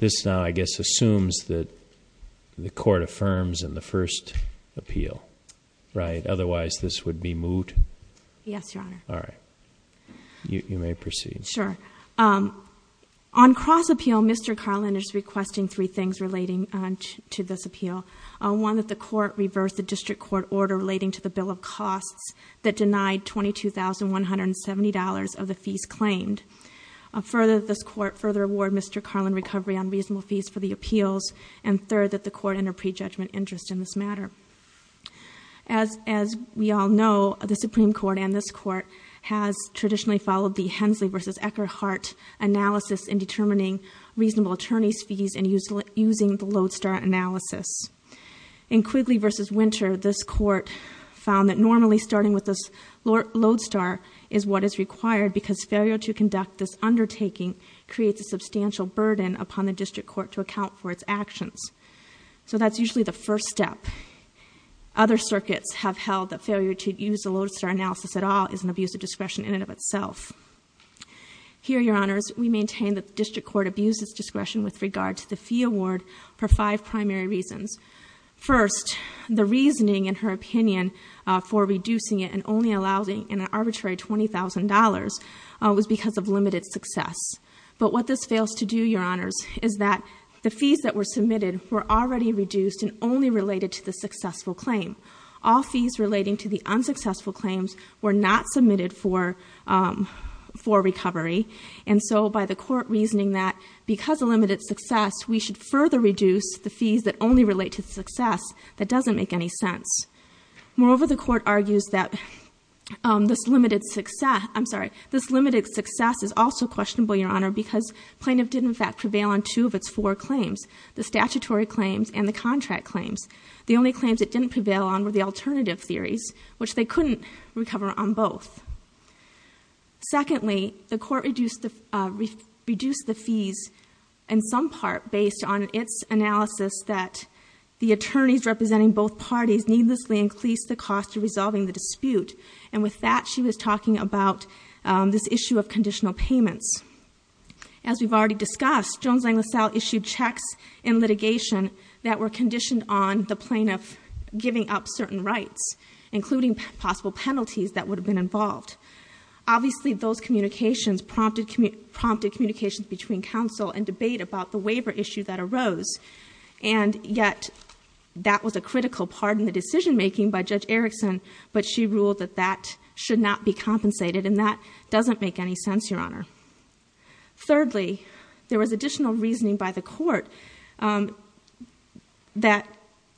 This now I guess assumes that the court affirms in the first appeal, right? Otherwise this would be moot. Yes, Your Honor. All right. You may proceed. Sure. On cross-appeal, Mr. Karlen is requesting three things relating to this appeal. One, that the court reverse the district court order relating to the bill of costs that denied $22,170 of the fees claimed. Further, this court further award Mr. Karlen recovery on reasonable fees for the appeals. And third, that the court enter prejudgment interest in this matter. As we all know, the Supreme Court and this court has traditionally followed the Hensley v. Eckerhart analysis in determining reasonable attorneys fees and using the Lodestar analysis. In Quigley v. Winter, this court found that normally starting with this Lodestar is what is required because failure to conduct this undertaking creates a substantial burden upon the district court to account for its actions. So that's usually the first step. Other circuits have held that failure to use the Lodestar analysis at all is an abuse of discretion in and of itself. Here, Your Honors, we maintain that the district court abused its discretion with regard to the fee award for five primary reasons. First, the reasoning in her opinion for reducing it and only allowing an arbitrary $20,000 was because of limited success. But what this fails to do, Your Honors, is that the fees that were submitted were already reduced and only related to the successful claim. All fees relating to the unsuccessful claims were not submitted for for recovery. And so by the court reasoning that because of limited success, we should further reduce the fees that only relate to the success, that doesn't make any sense. Moreover, the court argues that this limited success, I'm sorry, this limited success is also questionable, Your Honor, because plaintiff did in fact prevail on two of its four claims, the statutory claims and the contract claims. The only claims it didn't prevail on were the alternative theories, which they couldn't recover on both. Secondly, the court reduced the fees in some part based on its analysis that the attorneys representing both parties needlessly increased the cost of resolving the dispute. And with that, she was talking about this issue of conditional payments. As we've already discussed, Jones-Langlaisel issued checks in litigation that were conditioned on the plaintiff giving up certain rights, including possible penalties that would have been involved. Obviously, those communications prompted communications between counsel and debate about the waiver issue that arose. And yet, that was a critical part in the decision-making by Judge Erickson, but she ruled that that should not be compensated, and that doesn't make any sense, Your Honor. Thirdly, there was additional reasoning by the court that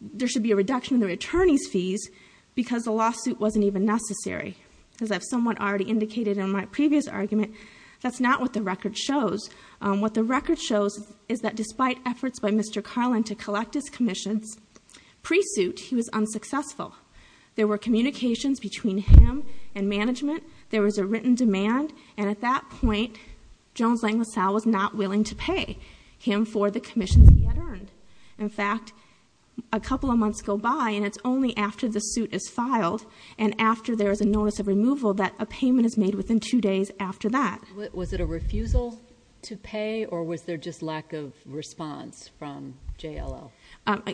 there should be a reduction in the attorneys' fees because the lawsuit wasn't even necessary. As I've somewhat already indicated in my previous argument, that's not what the record shows. What the record shows is that despite efforts by Mr. Carlin to collect his commission's pre-suit, he was unsuccessful. There were communications between him and management. There was a written demand. And at that point, Jones-Langlaisel was not willing to pay him for the commissions he had earned. In fact, a couple of months go by, and it's only after the suit is filed and after there is a notice of removal that a payment is made within two days after that. Was it a refusal to pay, or was there just lack of response from JLL?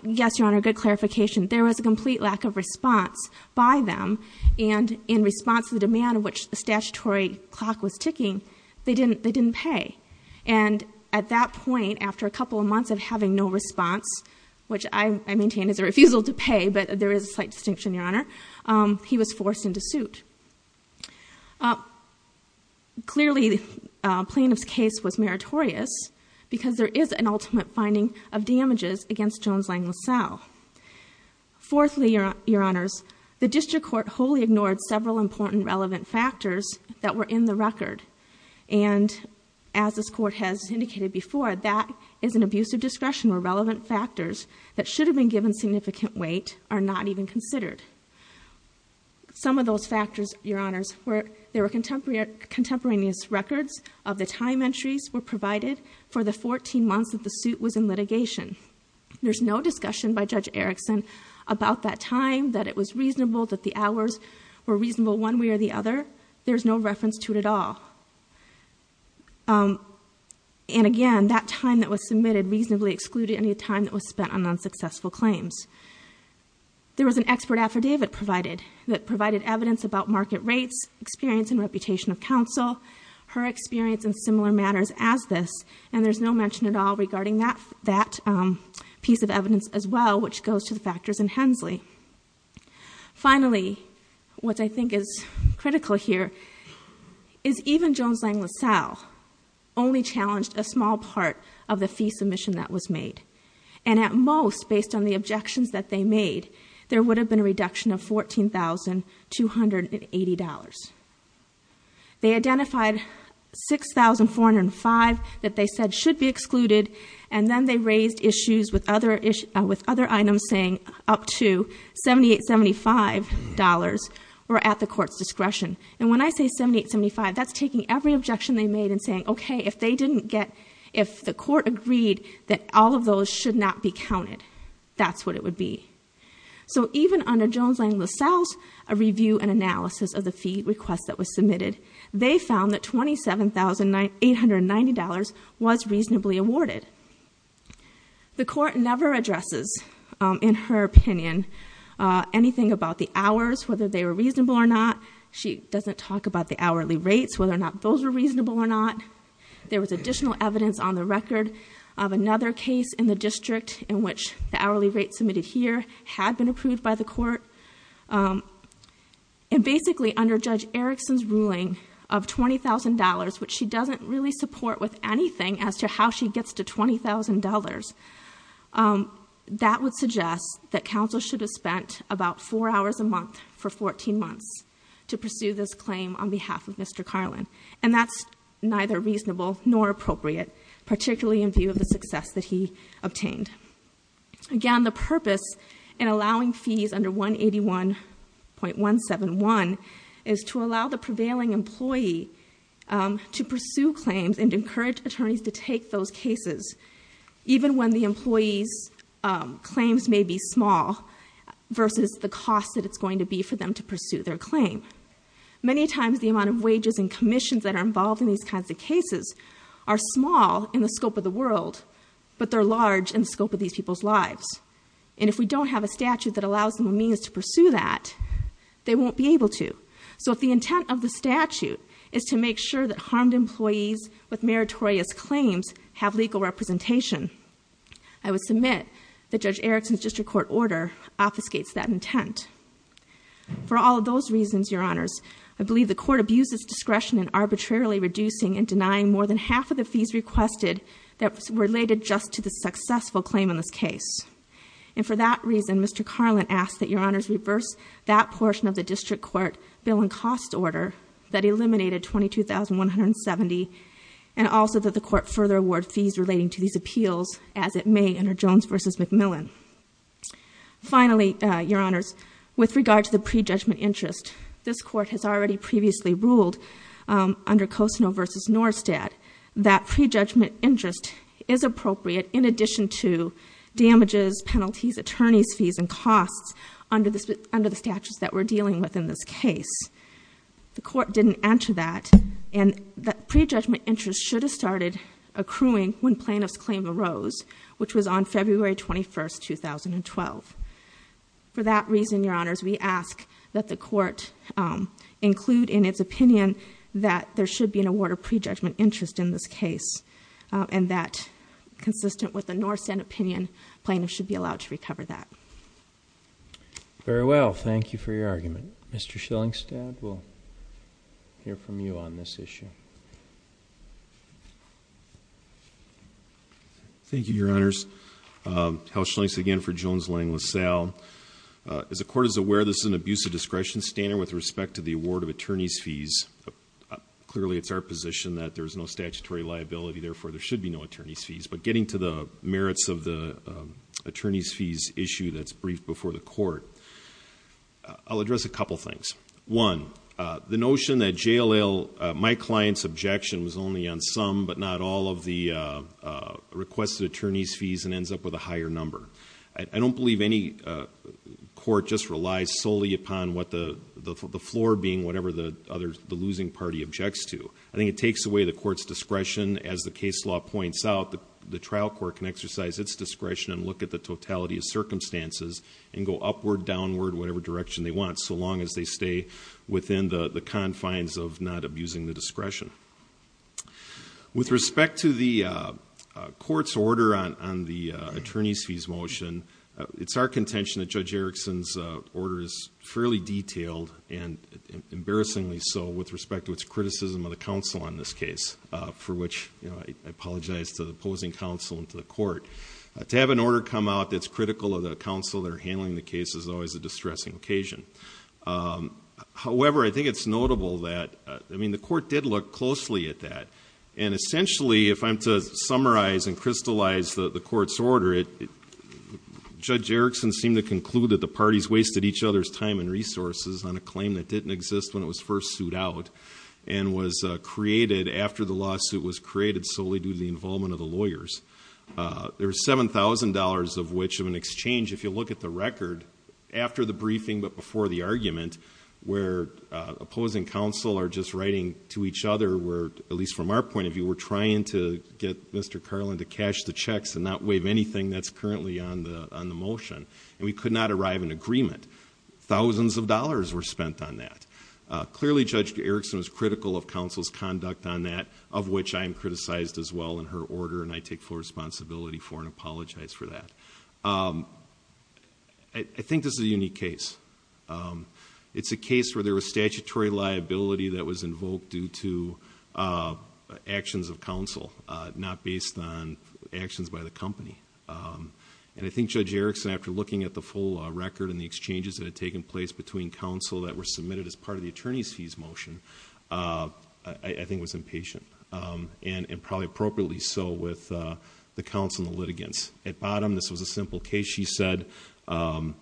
Yes, Your Honor, good clarification. There was a complete lack of response, by them, and in response to the demand of which the statutory clock was ticking, they didn't pay. And at that point, after a couple of months of having no response, which I maintain is a refusal to pay, but there is a slight distinction, Your Honor, he was forced into suit. Clearly, the plaintiff's case was meritorious because there is an ultimate finding of damages against Jones-Langlaisel. Fourthly, Your Honors, the district court wholly ignored several important relevant factors that were in the record. And as this court has indicated before, that is an abuse of discretion where relevant factors that should have been given significant weight are not even considered. Some of those factors, Your Honors, were there were contemporaneous records of the time entries were provided for the 14 months that the suit was in litigation. There's no discussion by Judge Erickson about that time, that it was reasonable, that the hours were reasonable one way or the other. There's no reference to it at all. And again, that time that was submitted reasonably excluded any time that was spent on unsuccessful claims. There was an expert affidavit provided that provided evidence about market rates, experience and reputation of counsel, her experience in similar matters as this, and there's no mention at all regarding that piece of evidence as well, which goes to the factors in Hensley. Finally, what I think is critical here is even Jones-Langlaisel only challenged a small part of the fee submission that was made. And at most, based on the objections that they made, there would have been a reduction of $14,280. They identified $6,405 that they said should be excluded, and then they raised issues with other items saying up to $7,875 were at the court's discretion. And when I say $7,875, that's taking every objection they made and saying, okay, if they didn't get, if the court agreed that all of those should not be counted, that's what it would be. So even under Jones-Langlaisel, a review and analysis of the fee request that was submitted, they found that $27,890 was reasonably awarded. The court never addresses, in her opinion, anything about the hours, whether they were reasonable or not. She doesn't talk about the hourly rates, whether or not those were reasonable or not. There was additional evidence on the record of another case in the district in which the hourly rate submitted here had been approved by the court. And basically, under Judge Erickson's ruling of $20,000, which she doesn't really support with anything as to how she gets to $20,000, that would suggest that counsel should have spent about four hours a month for 14 months to pursue this claim on behalf of Mr. Carlin. And that's neither reasonable nor appropriate, particularly in view of the success that he obtained. Again, the purpose in allowing fees under 181.171 is to allow the prevailing employee to pursue claims and encourage attorneys to take those cases, even when the employee's claims may be small, versus the cost that it's going to be for them to pursue their claim. Many times, the amount of wages and commissions that are involved in these kinds of cases are small in the scope of the world, but they're large in the scope of these people's lives. And if we don't have a statute that allows them a means to pursue that, they won't be able to. So if the intent of the statute is to make sure that harmed employees with meritorious claims have legal representation, I would submit that Judge Erickson's district court order obfuscates that intent. For all of those reasons, Your Honors, I believe the court abuses discretion in arbitrarily reducing and denying more than half of the fees requested that's related just to the successful claim in this case. And for that reason, Mr. Carlin asks that Your Honors reverse that portion of the district court bill and cost order that eliminated 22,170, and also that the court further award fees relating to these appeals as it may under Jones v. McMillan. Finally, Your Honors, with regard to the prejudgment interest, this was previously ruled under Kostner v. Norstad, that prejudgment interest is appropriate in addition to damages, penalties, attorney's fees, and costs under the statutes that we're dealing with in this case. The court didn't answer that, and that prejudgment interest should have started accruing when plaintiff's claim arose, which was on February 21st, 2012. For that reason, Your Honors, we ask that the court include in its opinion that there should be an award of prejudgment interest in this case, and that, consistent with the Norstad opinion, plaintiff should be allowed to recover that. Very well. Thank you for your argument. Mr. Schillingstad, we'll hear from you on this issue. Thank you, Your Honors. Hal Schillingstad again for Jones Lang LaSalle. As the court is aware, this is an abuse of discretion standard with respect to the award of attorney's fees. Clearly, it's our position that there's no statutory liability, therefore there should be no attorney's fees. But getting to the merits of the attorney's fees issue that's briefed before the court, I'll only on some but not all of the requested attorney's fees and ends up with a higher number. I don't believe any court just relies solely upon what the floor being whatever the losing party objects to. I think it takes away the court's discretion as the case law points out. The trial court can exercise its discretion and look at the totality of circumstances and go upward, downward, whatever direction they want, so long as they stay within the confines of not abusing the discretion. With respect to the court's order on the attorney's fees motion, it's our contention that Judge Erickson's order is fairly detailed and embarrassingly so with respect to its criticism of the counsel on this case, for which I apologize to the opposing counsel and to the court. To have an order come out that's critical of the counsel that are handling the case is always a distressing occasion. However, I think it's notable that the court did look closely at that. Essentially, if I'm to summarize and crystallize the court's order, Judge Erickson seemed to conclude that the parties wasted each other's time and resources on a claim that didn't exist when it was first sued out and was created after the lawsuit was created solely due to the involvement of the lawyers. There's $7,000 of which of an exchange, if you look at the record, after the briefing but before the each other were, at least from our point of view, were trying to get Mr. Carlin to cash the checks and not waive anything that's currently on the on the motion and we could not arrive in agreement. Thousands of dollars were spent on that. Clearly, Judge Erickson was critical of counsel's conduct on that of which I am criticized as well in her order and I take full responsibility for and apologize for that. I think this is a unique case. It's a case where there was statutory liability that was invoked due to actions of counsel, not based on actions by the company. I think Judge Erickson, after looking at the full record and the exchanges that had taken place between counsel that were submitted as part of the attorney's fees motion, I think was impatient and probably appropriately so with the counsel and the litigants. At bottom, this was a simple case. She said... You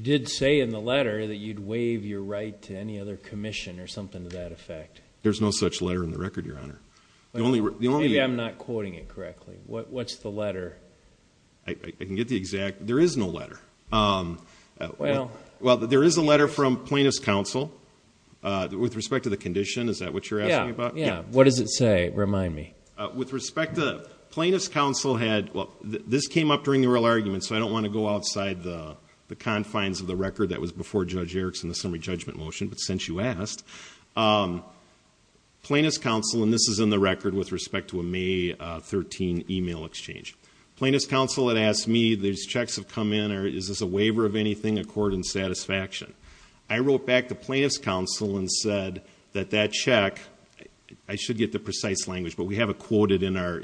did say in the letter that you'd waive your right to any other commission or something to that effect. There's no such letter in the record, Your Honor. Maybe I'm not quoting it correctly. What's the letter? I can get the exact... there is no letter. Well, there is a letter from plaintiff's counsel with respect to the condition. Is that what you're asking about? Yeah, what does it say? Remind me. With respect to... plaintiff's counsel had... well, this came up during the real argument, so I don't want to go outside the confines of the record that was before Judge Erickson's summary judgment motion, but since you asked, plaintiff's counsel... and this is in the record with respect to a May 13 email exchange. Plaintiff's counsel had asked me... these checks have come in or is this a waiver of anything according to satisfaction? I wrote back to plaintiff's counsel and said that that check... I should get the precise language, but we don't get any more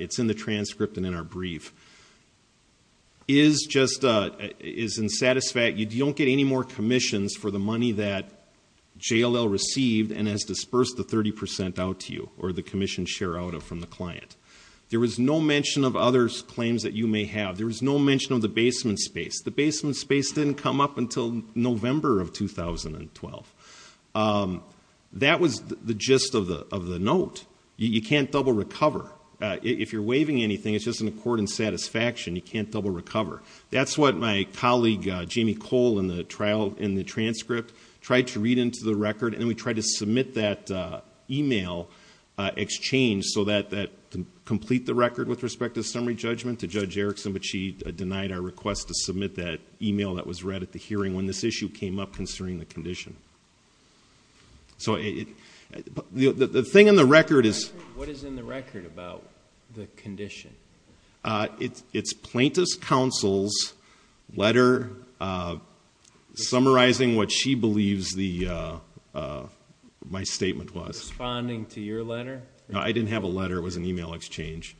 commissions for the money that JLL received and has dispersed the 30% out to you or the commission share out of from the client. There was no mention of other claims that you may have. There was no mention of the basement space. The basement space didn't come up until November of 2012. That was the gist of the note. You can't double recover. If you're waiving anything, it's just an accord in satisfaction. You can't double recover. That's what my colleague, Jamie Cole, in the transcript tried to read into the record and we tried to submit that email exchange so that... to complete the record with respect to summary judgment to Judge Erickson, but she denied our request to submit that email that was read at the hearing when this issue came up concerning the condition. So the thing in the record is... What is in the record about the condition? It's plaintiff's counsel's letter summarizing what she believes my statement was. Responding to your letter? No, I didn't have a letter. It was an email exchange.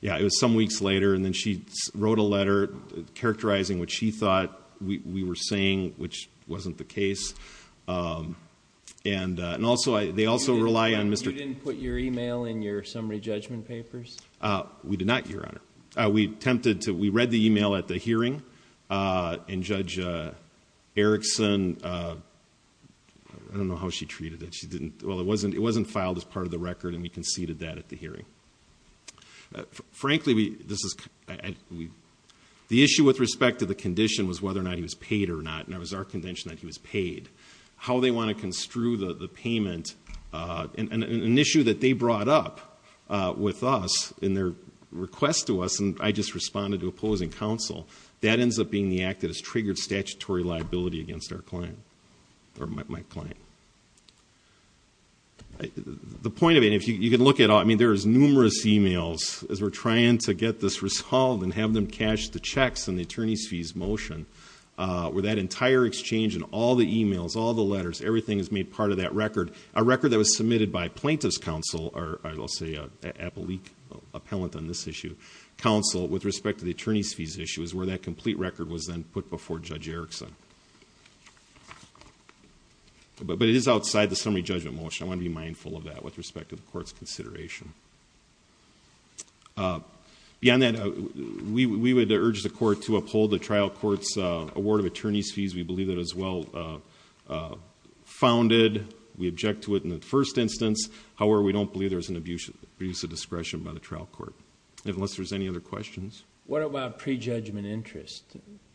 Yeah, it was some weeks later and then she wrote a letter characterizing what she thought we were saying, which wasn't the case. And also, they also rely on Mr.... You didn't put your email in your summary judgment papers? We did not, Your Honor. We read the email at the hearing and Judge Erickson... I don't know how she treated it. She didn't... Well, it wasn't filed as part of the record and we conceded that at the hearing. Frankly, the issue with respect to the condition was whether or not he was paid or not, and it was our convention that he was paid. How they want to construe the payment... An issue that they brought up with us in their request to us, and I just responded to opposing counsel, that ends up being the act that has triggered statutory liability against our client or my client. The point of it... If you can look at... I mean, there's numerous emails as we're trying to get this motion, where that entire exchange in all the emails, all the letters, everything is made part of that record. A record that was submitted by plaintiff's counsel, or I'll say appellate, appellant on this issue, counsel, with respect to the attorney's fees issue, is where that complete record was then put before Judge Erickson. But it is outside the summary judgment motion. I want to be mindful of that with respect to the court's... If there's a court to uphold the trial court's award of attorney's fees, we believe that is well founded. We object to it in the first instance. However, we don't believe there's an abuse of discretion by the trial court, unless there's any other questions. What about pre-judgment interest?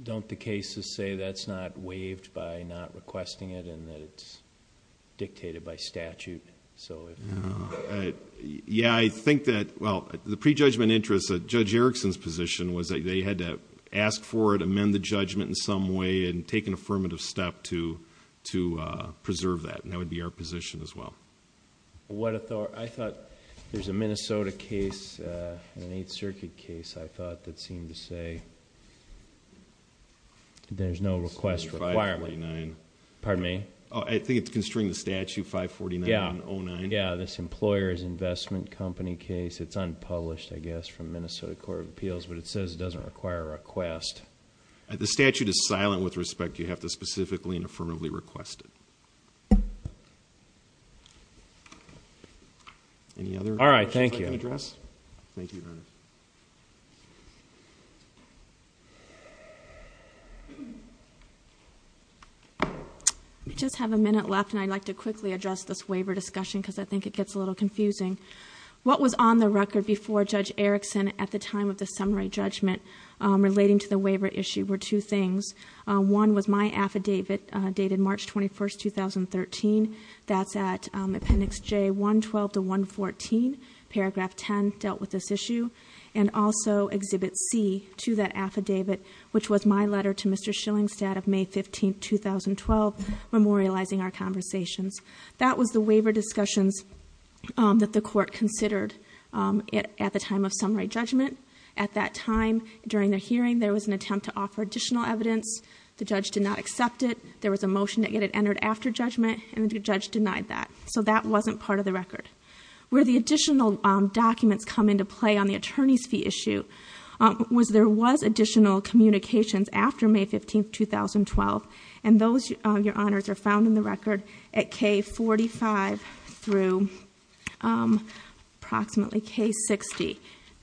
Don't the cases say that's not waived by not requesting it, and that it's dictated by statute? Yeah, I think that... Well, the pre-judgment interest of Judge Erickson's case, they had to ask for it, amend the judgment in some way, and take an affirmative step to preserve that, and that would be our position as well. I thought there's a Minnesota case, an Eighth Circuit case, I thought, that seemed to say there's no request for... 549. Pardon me? I think it's constrained to statute, 549.09. Yeah, this employer's investment company case. It's unpublished, I guess, from Minnesota Court of Appeals, but it says it doesn't require a request. The statute is silent with respect. You have to specifically and affirmatively request it. Any other questions I can address? All right, thank you. Thank you, Your Honor. I just have a minute left, and I'd like to quickly address this waiver discussion, because I think it gets a little confusing. What was on the record before Judge Erickson at the time of the summary judgment relating to the waiver issue were two things. One was my affidavit dated March 21, 2013. That's at Appendix J112 to 114, Paragraph 10 dealt with this issue. And also, Exhibit C to that affidavit, which was my letter to Mr. Schillingstadt of May 15, 2012, memorializing our conversations. That was the waiver discussions that the court considered at the time of summary judgment. At that time, during the hearing, there was an attempt to offer additional evidence. The judge did not accept it. There was a motion that it entered after judgment, and the judge denied that. So that wasn't part of the record. Where the additional documents come into play on the attorney's fee issue was, there was additional communications after May 15, 2012, and those, Your Honor, were K45 through approximately K60.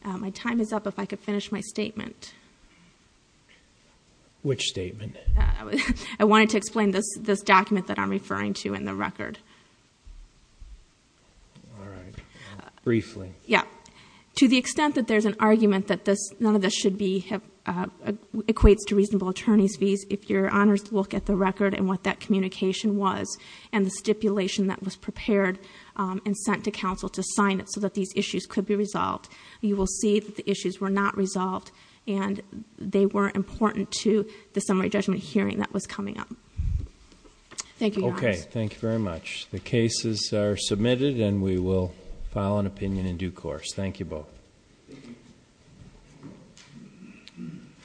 My time is up. If I could finish my statement. Which statement? I wanted to explain this document that I'm referring to in the record. All right. Briefly. Yeah. To the extent that there's an argument that none of this should be, equates to reasonable attorney's fees, if Your Honor's look at the record and what that communication was, and the stipulation that was prepared and sent to counsel to sign it so that these issues could be resolved, you will see that the issues were not resolved, and they were important to the summary judgment hearing that was coming up. Thank you, Your Honor. Okay. Thank you very much. The cases are submitted, and we will file an opinion in due course. Thank you both.